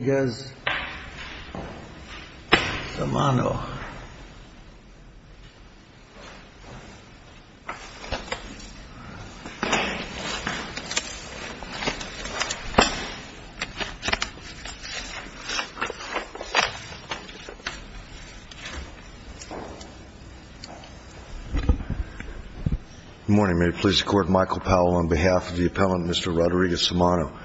Good morning. May it please the Court, Michael Powell on behalf of the appellant, Mr. Rodriguez-Samano.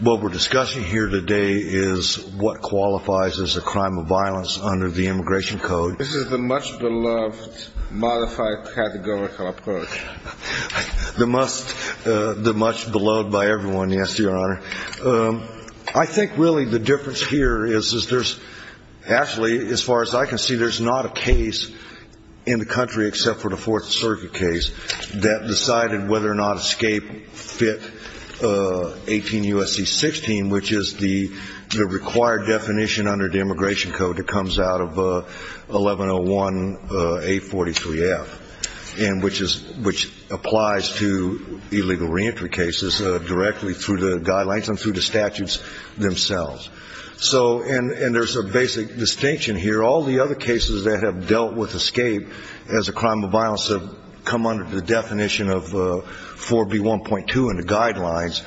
What we're discussing here today is what qualifies as a crime of violence under the Immigration Code. This is the much-beloved modified categorical approach. The much-beloved by everyone, yes, Your Honor. I think really the difference here is there's actually, as far as I can see, there's not a case in the country except for the Fourth Circuit case that decided whether or not ESCAPE fit 18 U.S.C. 16, which is the required definition under the Immigration Code that comes out of 1101A43F, which applies to illegal reentry cases directly through the guidelines and through the statutes themselves. And there's a basic distinction here. All the other cases that have dealt with ESCAPE as a crime of violence have come under the definition of 4B1.2 in the guidelines,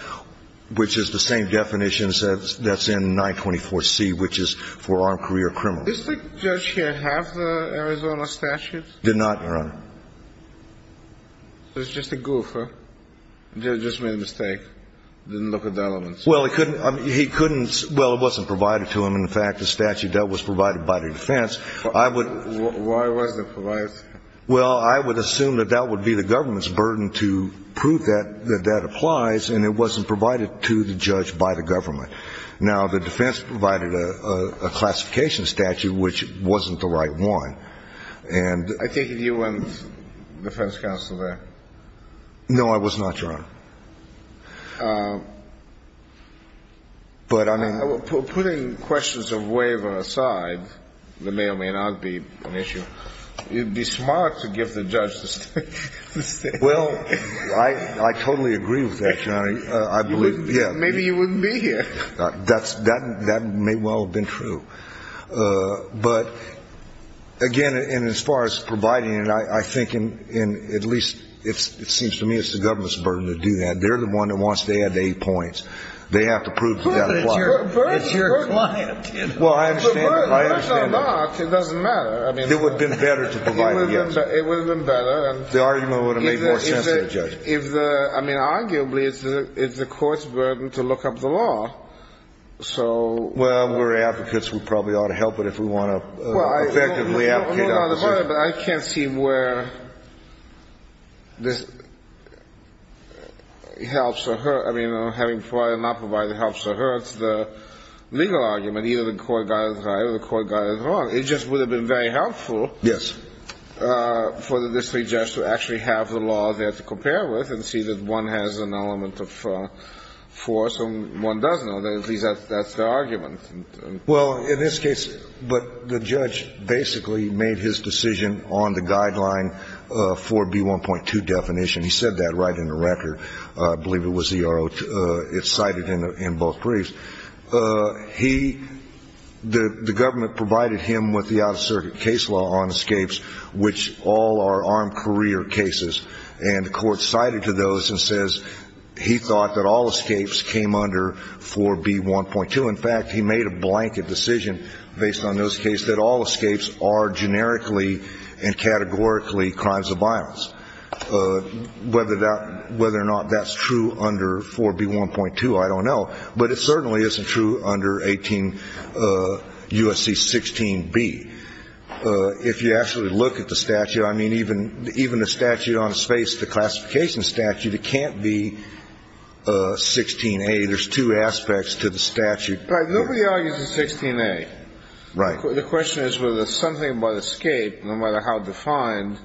which is the same definition that's in 924C, which is for armed career criminals. Does the judge here have the Arizona statutes? Did not, Your Honor. So it's just a goof, huh? Just made a mistake, didn't look at the elements. Well, he couldn't – well, it wasn't provided to him. In fact, the statute that was provided by the defense, I would – Why wasn't it provided? Well, I would assume that that would be the government's burden to prove that that applies, and it wasn't provided to the judge by the government. Now, the defense provided a classification statute, which wasn't the right one. I take it you weren't defense counsel there. No, I was not, Your Honor. But, I mean – Putting questions of waiver aside, that may or may not be an issue, it would be smart to give the judge the statute. Well, I totally agree with that, Your Honor. I believe – Maybe you wouldn't be here. That may well have been true. But, again, and as far as providing it, I think in – at least it seems to me it's the government's burden to do that. They're the one that wants to add the eight points. They have to prove that that applies. It's your client, you know. Well, I understand that. It doesn't matter. It would have been better to provide it against him. It would have been better. The argument would have made more sense to the judge. I mean, arguably, it's the court's burden to look up the law. So – Well, we're advocates. We probably ought to help it if we want to effectively advocate our position. I can't see where this helps or hurts – I mean, having provided or not provided helps or hurts the legal argument. Either the court got it right or the court got it wrong. It just would have been very helpful – Yes. for the district judge to actually have the law there to compare with and see that one has an element of force and one doesn't. At least that's the argument. Well, in this case – but the judge basically made his decision on the guideline for B1.2 definition. He said that right in the record. I believe it was the – it's cited in both briefs. He – the government provided him with the out-of-circuit case law on escapes, which all are armed career cases. And the court cited to those and says he thought that all escapes came under 4B1.2. In fact, he made a blanket decision based on those cases that all escapes are generically and categorically crimes of violence. Whether or not that's true under 4B1.2, I don't know. But it certainly isn't true under 18 U.S.C. 16B. If you actually look at the statute, I mean, even the statute on the space, the classification statute, it can't be 16A. There's two aspects to the statute. Right. Nobody argues it's 16A. Right. The question is whether there's something about escape, no matter how defined,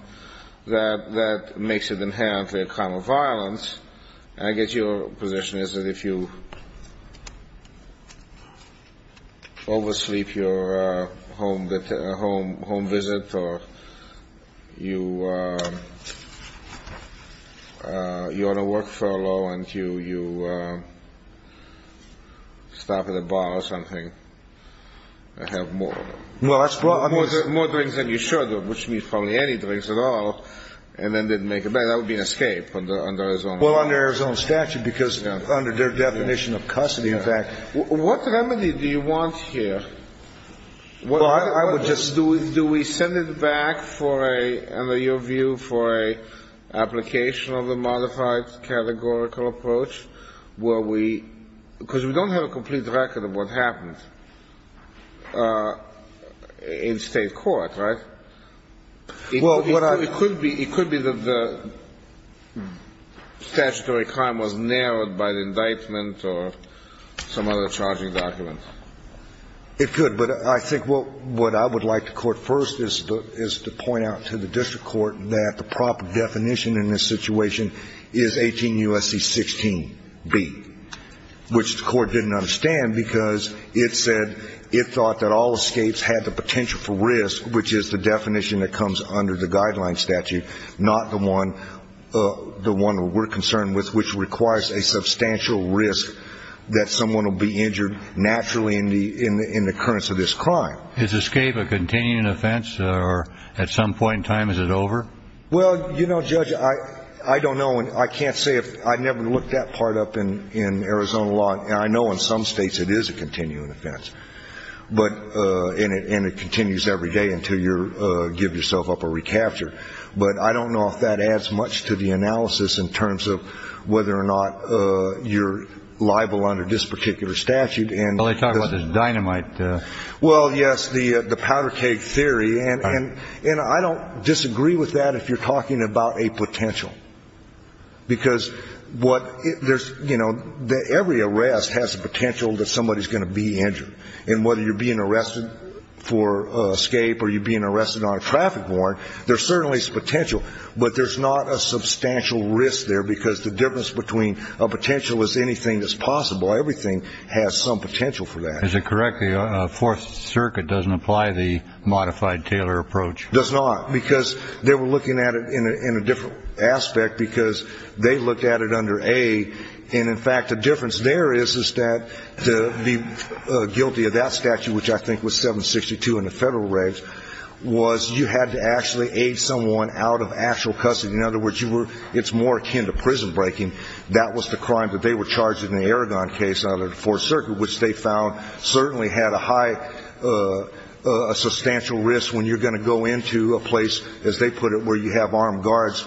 that makes it inherently a crime of violence. I guess your position is that if you oversleep your home visit or you're on a work furlough and you stop at a bar or something, have more drinks than you should, which means probably any drinks at all, and then didn't make it back, that would be an escape under his own law. Well, under his own statute, because under their definition of custody, in fact. What remedy do you want here? Well, I would just do it. Do we send it back for a, under your view, for an application of a modified categorical approach? Because we don't have a complete record of what happened in State court, right? It could be that the statutory crime was narrowed by the indictment or some other charging document. It could. But I think what I would like the Court first is to point out to the district court that the proper definition in this situation is 18 U.S.C. 16B, which the Court didn't understand because it said it thought that all escapes had the potential for risk, which is the definition that comes under the guideline statute, not the one we're concerned with, which requires a substantial risk that someone will be injured naturally in the occurrence of this crime. Is escape a continuing offense or at some point in time is it over? Well, you know, Judge, I don't know. I can't say. I never looked that part up in Arizona law, and I know in some states it is a continuing offense. And it continues every day until you give yourself up or recapture. But I don't know if that adds much to the analysis in terms of whether or not you're liable under this particular statute. Well, they talk about this dynamite. Well, yes, the powder keg theory. And I don't disagree with that if you're talking about a potential. Because what there's, you know, every arrest has the potential that somebody is going to be injured. And whether you're being arrested for escape or you're being arrested on a traffic warrant, there certainly is potential. But there's not a substantial risk there because the difference between a potential is anything that's possible. Everything has some potential for that. Is it correct the Fourth Circuit doesn't apply the modified Taylor approach? It does not because they were looking at it in a different aspect because they looked at it under A. And, in fact, the difference there is that to be guilty of that statute, which I think was 762 in the federal regs, was you had to actually aid someone out of actual custody. In other words, it's more akin to prison breaking. That was the crime that they were charged in the Aragon case out of the Fourth Circuit, which they found certainly had a high substantial risk when you're going to go into a place, as they put it, where you have armed guards.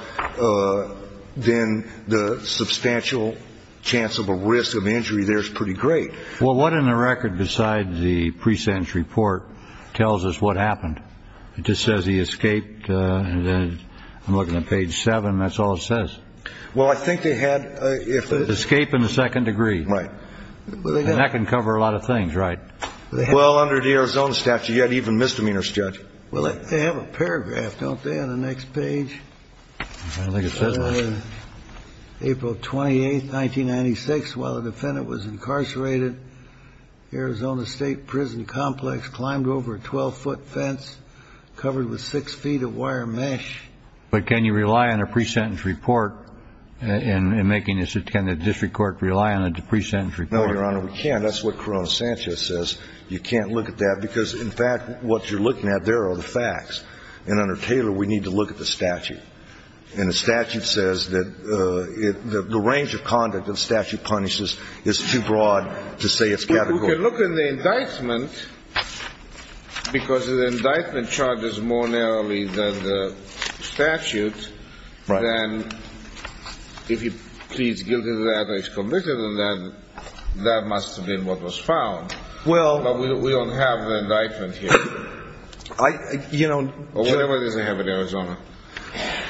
Then the substantial chance of a risk of injury there is pretty great. Well, what in the record besides the pre-sentence report tells us what happened? It just says he escaped. I'm looking at page seven. That's all it says. Well, I think they had. Escape in the second degree. Right. That can cover a lot of things, right? Well, under the Arizona statute, you had even misdemeanor, Judge. Well, they have a paragraph, don't they, on the next page? I don't think it says much. April 28th, 1996, while the defendant was incarcerated, Arizona State Prison Complex climbed over a 12-foot fence covered with six feet of wire mesh. But can you rely on a pre-sentence report in making this? Can the district court rely on a pre-sentence report? No, Your Honor, we can't. That's what Corona Sanchez says. You can't look at that because, in fact, what you're looking at there are the facts. And under Taylor, we need to look at the statute. And the statute says that the range of conduct the statute punishes is too broad to say it's categorical. We can look at the indictment because the indictment charges more narrowly than the statute. Right. And if he pleads guilty to that or is convicted in that, that must have been what was found. Well. But we don't have the indictment here. I, you know. Or whatever it is they have in Arizona.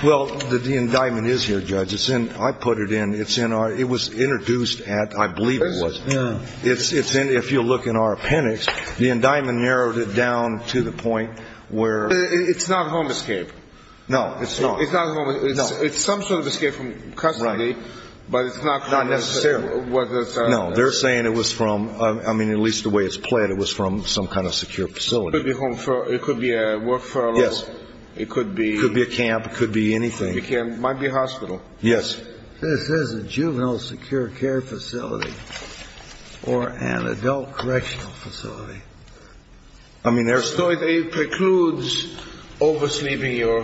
Well, the indictment is here, Judge. It's in, I put it in, it's in our, it was introduced at, I believe it was. Yeah. It's in, if you look in our appendix, the indictment narrowed it down to the point where. It's not a home escape. No, it's not. It's not a home escape. No. It's some sort of escape from custody. Right. But it's not. Not necessarily. No, they're saying it was from, I mean, at least the way it's played, it was from some kind of secure facility. It could be a work furlough. Yes. It could be. It could be a camp. It could be anything. It might be a hospital. Yes. This is a juvenile secure care facility or an adult correctional facility. I mean, there's. So it precludes oversleeping your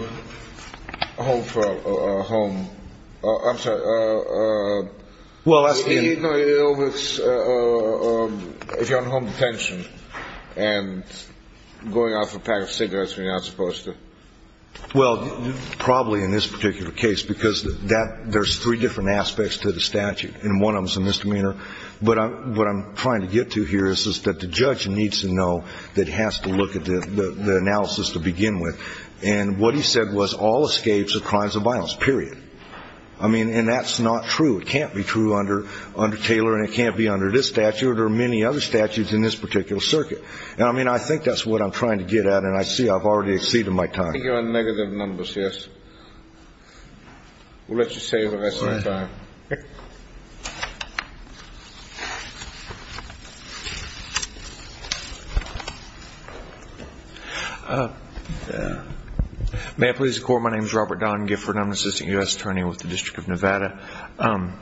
home for a home, I'm sorry. Well, that's. You know, if you're on home detention and going off a pack of cigarettes when you're not supposed to. Well, probably in this particular case, because there's three different aspects to the statute, and one of them is a misdemeanor. But what I'm trying to get to here is that the judge needs to know that he has to look at the analysis to begin with. And what he said was all escapes are crimes of violence, period. I mean, and that's not true. It can't be true under Taylor, and it can't be under this statute or many other statutes in this particular circuit. And, I mean, I think that's what I'm trying to get at, and I see I've already exceeded my time. Negative numbers, yes. We'll let you save the rest of your time. May I please record my name is Robert Don Gifford. I'm an assistant U.S. attorney with the District of Nevada. A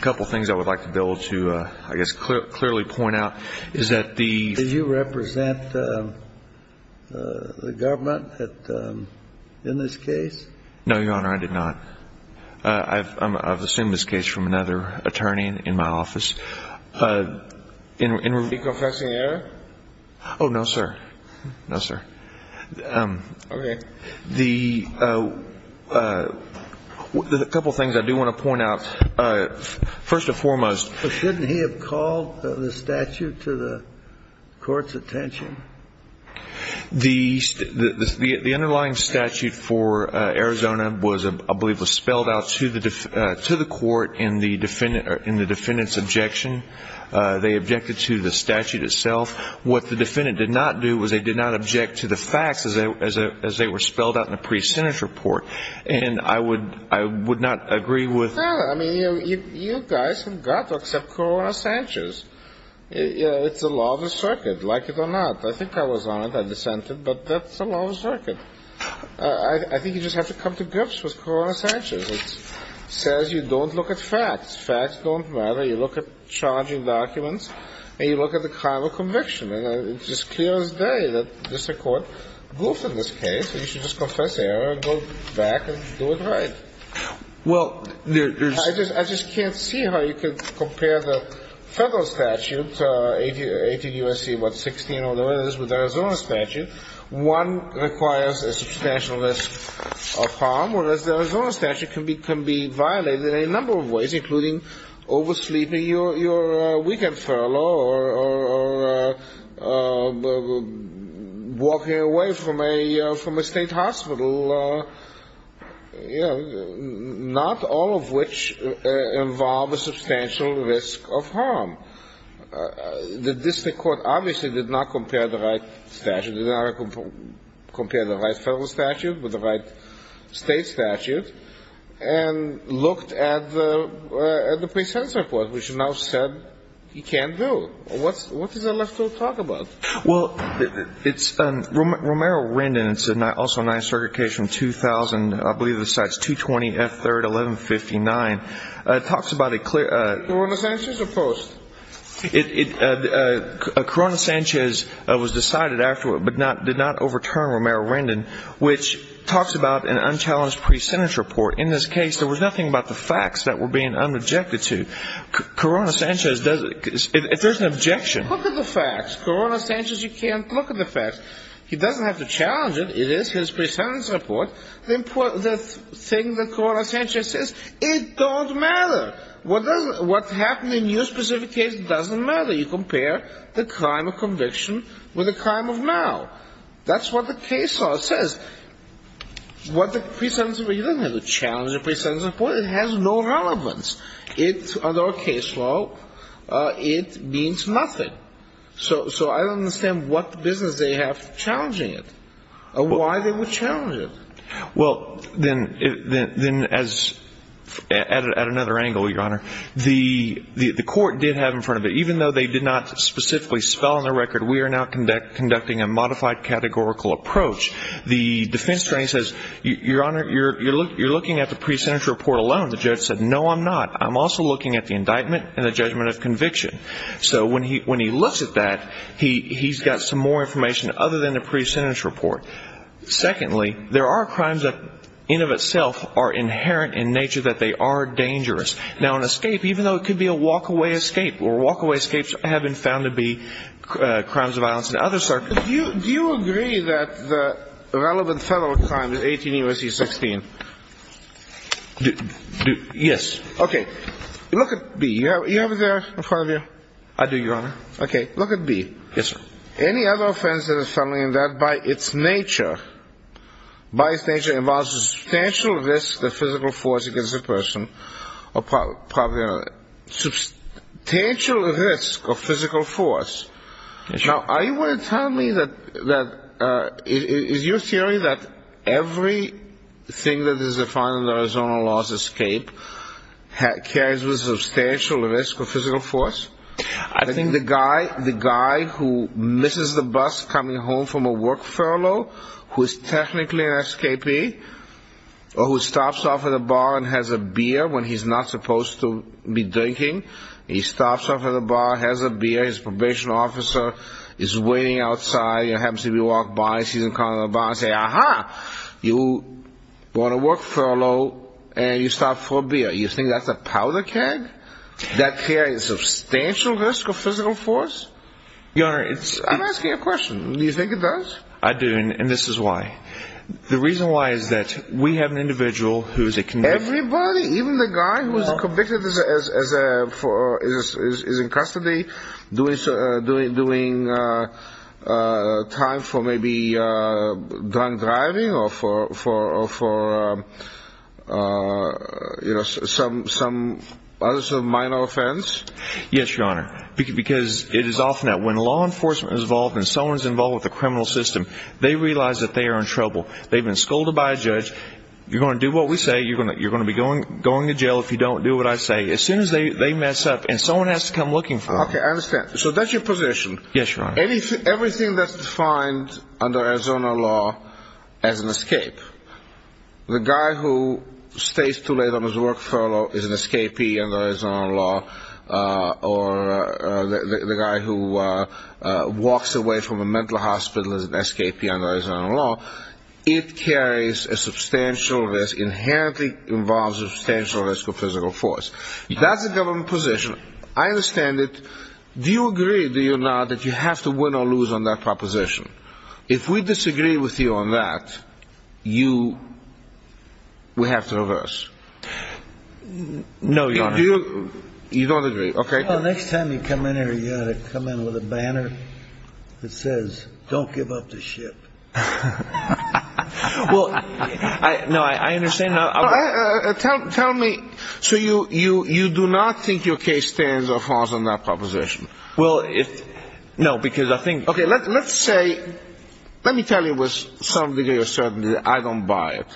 couple things I would like to build to, I guess, clearly point out is that the. Did you represent the government in this case? No, Your Honor, I did not. I've assumed this case from another attorney in my office. Did he confess in error? Oh, no, sir. No, sir. Okay. The couple things I do want to point out, first and foremost. First, shouldn't he have called the statute to the court's attention? The underlying statute for Arizona was, I believe, was spelled out to the court in the defendant's objection. They objected to the statute itself. What the defendant did not do was they did not object to the facts as they were spelled out in a pre-Senate report. And I would not agree with. I mean, you guys have got to accept Corona-Sanchez. It's a law of the circuit, like it or not. I think I was on it. I dissented. But that's the law of the circuit. I think you just have to come to grips with Corona-Sanchez. It says you don't look at facts. Facts don't matter. You look at challenging documents. And you look at the crime of conviction. And it's just clear as day that this court goofed in this case. You should just confess error and go back and do it right. I just can't see how you could compare the federal statute, 18 U.S.C. what, 16 or whatever it is, with the Arizona statute. One requires a substantial risk of harm, whereas the Arizona statute can be violated in a number of ways, including oversleeping your weekend furlough or walking away from a state hospital. Not all of which involve a substantial risk of harm. This court obviously did not compare the right federal statute with the right state statute and looked at the pre-sentence report, which now said he can't do. What is there left to talk about? Well, it's Romero-Rendon. It's also a nice circuit case from 2000. I believe the site's 220 F. 3rd, 1159. It talks about a clear ‑‑ Corona-Sanchez or Post? Corona-Sanchez was decided after but did not overturn Romero-Rendon, which talks about an unchallenged pre-sentence report. In this case, there was nothing about the facts that were being unobjected to. Corona-Sanchez doesn't ‑‑ there's an objection. Look at the facts. Corona-Sanchez, you can't look at the facts. He doesn't have to challenge it. It is his pre-sentence report. The thing that Corona-Sanchez says, it don't matter. What happened in your specific case doesn't matter. You compare the crime of conviction with the crime of now. That's what the case law says. What the pre-sentence report ‑‑ you don't have to challenge the pre-sentence report. It has no relevance. In our case law, it means nothing. So I don't understand what business they have challenging it or why they would challenge it. Well, then as ‑‑ at another angle, Your Honor, the court did have in front of it, even though they did not specifically spell on the record, we are now conducting a modified categorical approach. The defense attorney says, Your Honor, you're looking at the pre-sentence report alone. The judge said, No, I'm not. I'm also looking at the indictment and the judgment of conviction. So when he looks at that, he's got some more information other than the pre-sentence report. Secondly, there are crimes that, in of itself, are inherent in nature that they are dangerous. Now, an escape, even though it could be a walk‑away escape, or walk‑away escapes have been found to be crimes of violence in other circumstances. Do you agree that the relevant federal crime in 18 U.S.C. 16? Yes. Okay. Look at B. You have it there in front of you? I do, Your Honor. Okay. Look at B. Yes, sir. Any other offense that is found in that by its nature, by its nature involves a substantial risk of physical force against the person, or probably another, substantial risk of physical force. Yes, sir. Now, are you willing to tell me that, is your theory that everything that is defined in the Arizona laws of escape carries with it a substantial risk of physical force? I think the guy who misses the bus coming home from a work furlough, who is technically an escapee, or who stops off at a bar and has a beer when he's not supposed to be drinking, he stops off at a bar, has a beer, his probation officer is waiting outside, happens to be walking by, sees him coming to the bar and says, Aha, you're on a work furlough and you stopped for a beer. You think that's a powder keg? That carries a substantial risk of physical force? Your Honor, I'm asking you a question. Do you think it does? I do, and this is why. The reason why is that we have an individual who is a convict. Really? Even the guy who is convicted is in custody, doing time for maybe drunk driving or for some other sort of minor offense? Yes, Your Honor, because it is often that when law enforcement is involved and someone is involved with the criminal system, they realize that they are in trouble. They've been scolded by a judge. You're going to do what we say. You're going to be going to jail if you don't do what I say. As soon as they mess up, and someone has to come looking for them. Okay, I understand. So that's your position. Yes, Your Honor. Everything that's defined under Arizona law as an escape, the guy who stays too late on his work furlough is an escapee under Arizona law, or the guy who walks away from a mental hospital is an escapee under Arizona law. It carries a substantial risk, inherently involves a substantial risk of physical force. That's a government position. I understand it. Do you agree, do you not, that you have to win or lose on that proposition? If we disagree with you on that, we have to reverse. No, Your Honor. You don't agree? Okay. Well, next time you come in here, you ought to come in with a banner that says, don't give up the ship. Well, no, I understand. Tell me, so you do not think your case stands or falls on that proposition? Well, no, because I think. Okay, let's say, let me tell you with some degree of certainty that I don't buy it.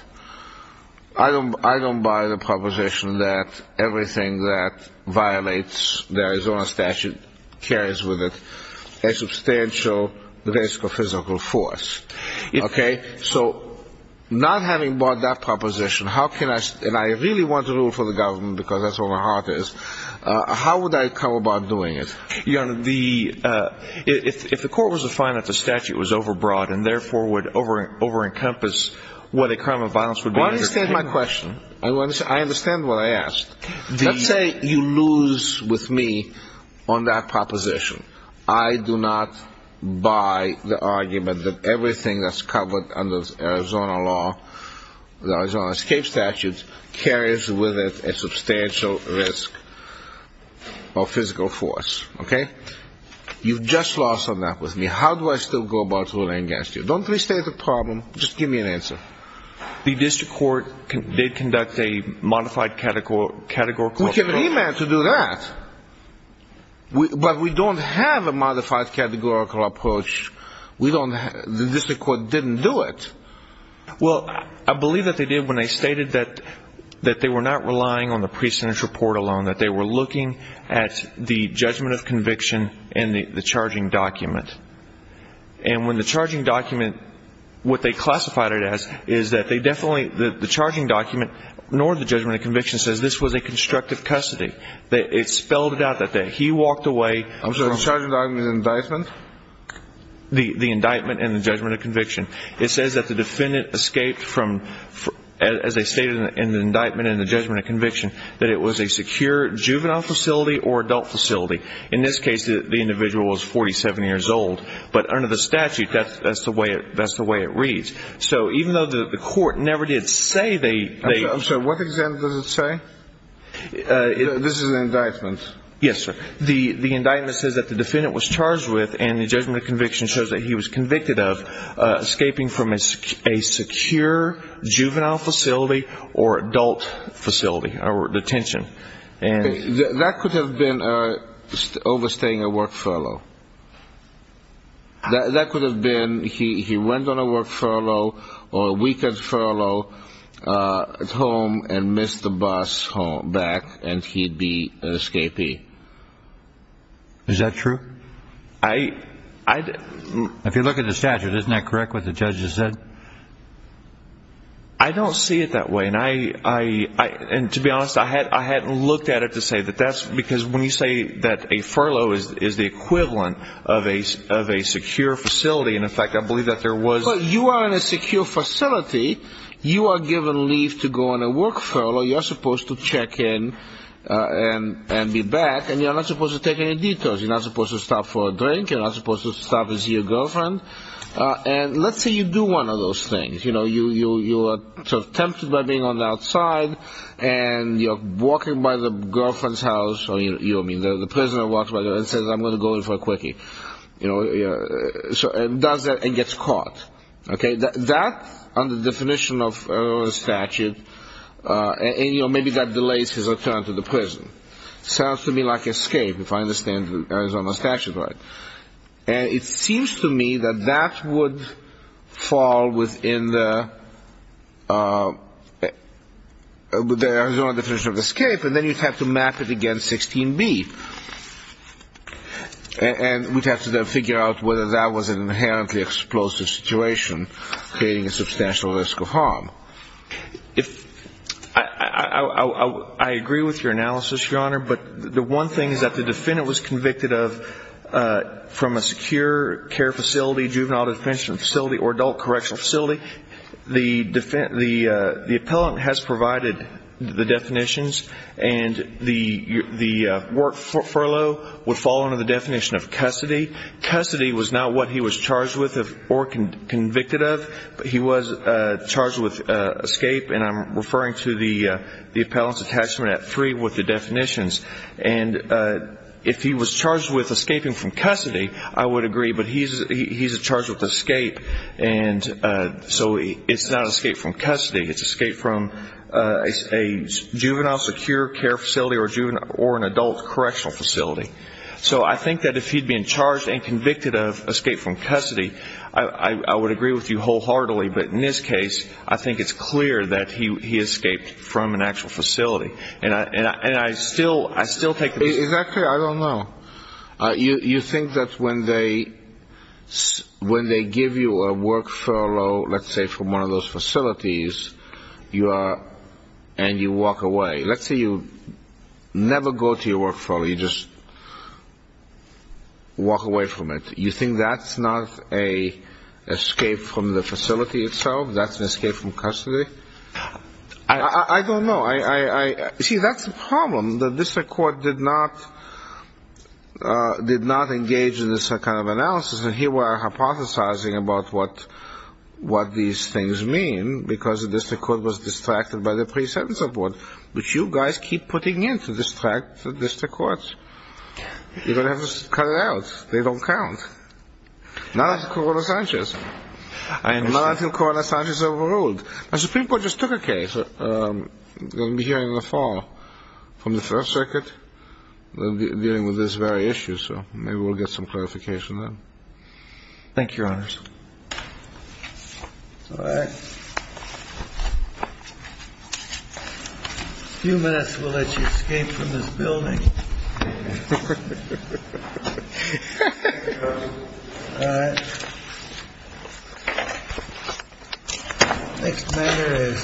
I don't buy the proposition that everything that violates the Arizona statute carries with it a substantial risk of physical force. Okay, so not having bought that proposition, how can I, and I really want to rule for the government because that's where my heart is, how would I come about doing it? Your Honor, if the court was to find that the statute was overbroad and therefore would over-encompass what a crime of violence would be. I understand my question. I understand what I asked. Let's say you lose with me on that proposition. I do not buy the argument that everything that's covered under the Arizona law, the Arizona escape statute, carries with it a substantial risk of physical force. Okay? You've just lost on that with me. How do I still go about ruling against you? Don't restate the problem. Just give me an answer. The district court did conduct a modified categorical approach. We can demand to do that. But we don't have a modified categorical approach. The district court didn't do it. Well, I believe that they did when they stated that they were not relying on the pre-sentence report alone, that they were looking at the judgment of conviction and the charging document. And when the charging document, what they classified it as is that they definitely, the charging document nor the judgment of conviction says this was a constructive custody. It spelled it out that he walked away. I'm sorry, the charging document is indictment? The indictment and the judgment of conviction. It says that the defendant escaped from, as they stated in the indictment and the judgment of conviction, that it was a secure juvenile facility or adult facility. In this case, the individual was 47 years old. But under the statute, that's the way it reads. So even though the court never did say they – I'm sorry, what example does it say? This is an indictment. Yes, sir. The indictment says that the defendant was charged with, and the judgment of conviction shows that he was convicted of, escaping from a secure juvenile facility or adult facility or detention. That could have been overstaying a work furlough. That could have been he went on a work furlough or a weekend furlough at home and missed the bus back and he'd be an escapee. Is that true? If you look at the statute, isn't that correct what the judge just said? I don't see it that way. And to be honest, I hadn't looked at it to say that that's – because when you say that a furlough is the equivalent of a secure facility, and, in fact, I believe that there was – But you are in a secure facility. You are given leave to go on a work furlough. You are supposed to check in and be back, and you're not supposed to take any detours. You're not supposed to stop for a drink. You're not supposed to stop and see your girlfriend. And let's say you do one of those things. You know, you are sort of tempted by being on the outside, and you're walking by the girlfriend's house, or, you know, the prisoner walks by and says, I'm going to go in for a quickie, you know, and does that and gets caught. Okay? That, under the definition of a statute, and, you know, maybe that delays his return to the prison. It sounds to me like escape, if I understand the Arizona statute right. And it seems to me that that would fall within the Arizona definition of escape, and then you'd have to map it against 16B, and we'd have to figure out whether that was an inherently explosive situation, creating a substantial risk of harm. I agree with your analysis, Your Honor, but the one thing is that the defendant was convicted of from a secure care facility, juvenile detention facility, or adult correctional facility. The defendant, the appellant has provided the definitions, and the work furlough would fall under the definition of custody. Custody was not what he was charged with or convicted of, but he was charged with escape, and I'm referring to the appellant's attachment at three with the definitions. And if he was charged with escaping from custody, I would agree, but he's charged with escape, and so it's not escape from custody. It's escape from a juvenile secure care facility or an adult correctional facility. So I think that if he'd been charged and convicted of escape from custody, I would agree with you wholeheartedly, but in this case I think it's clear that he escaped from an actual facility. And I still take the view. Is that clear? I don't know. You think that when they give you a work furlough, let's say from one of those facilities, and you walk away. Let's say you never go to your work furlough. You just walk away from it. You think that's not an escape from the facility itself? That's an escape from custody? I don't know. See, that's the problem. The district court did not engage in this kind of analysis, and here we are hypothesizing about what these things mean because the district court was distracted by the pre-sentence report, which you guys keep putting in to distract the district courts. You're going to have to cut it out. They don't count. Not until Corolla-Sanchez. Not until Corolla-Sanchez overruled. The Supreme Court just took a case here in the fall from the First Circuit dealing with this very issue. So maybe we'll get some clarification then. Thank you, Your Honor. All right. A few minutes will let you escape from this building. All right. Next matter is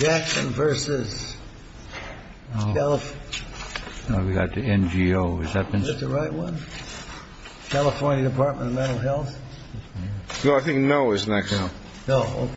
Jackson v. California. We got the NGO. Is that the right one? California Department of Mental Health? No, I think no is next. No.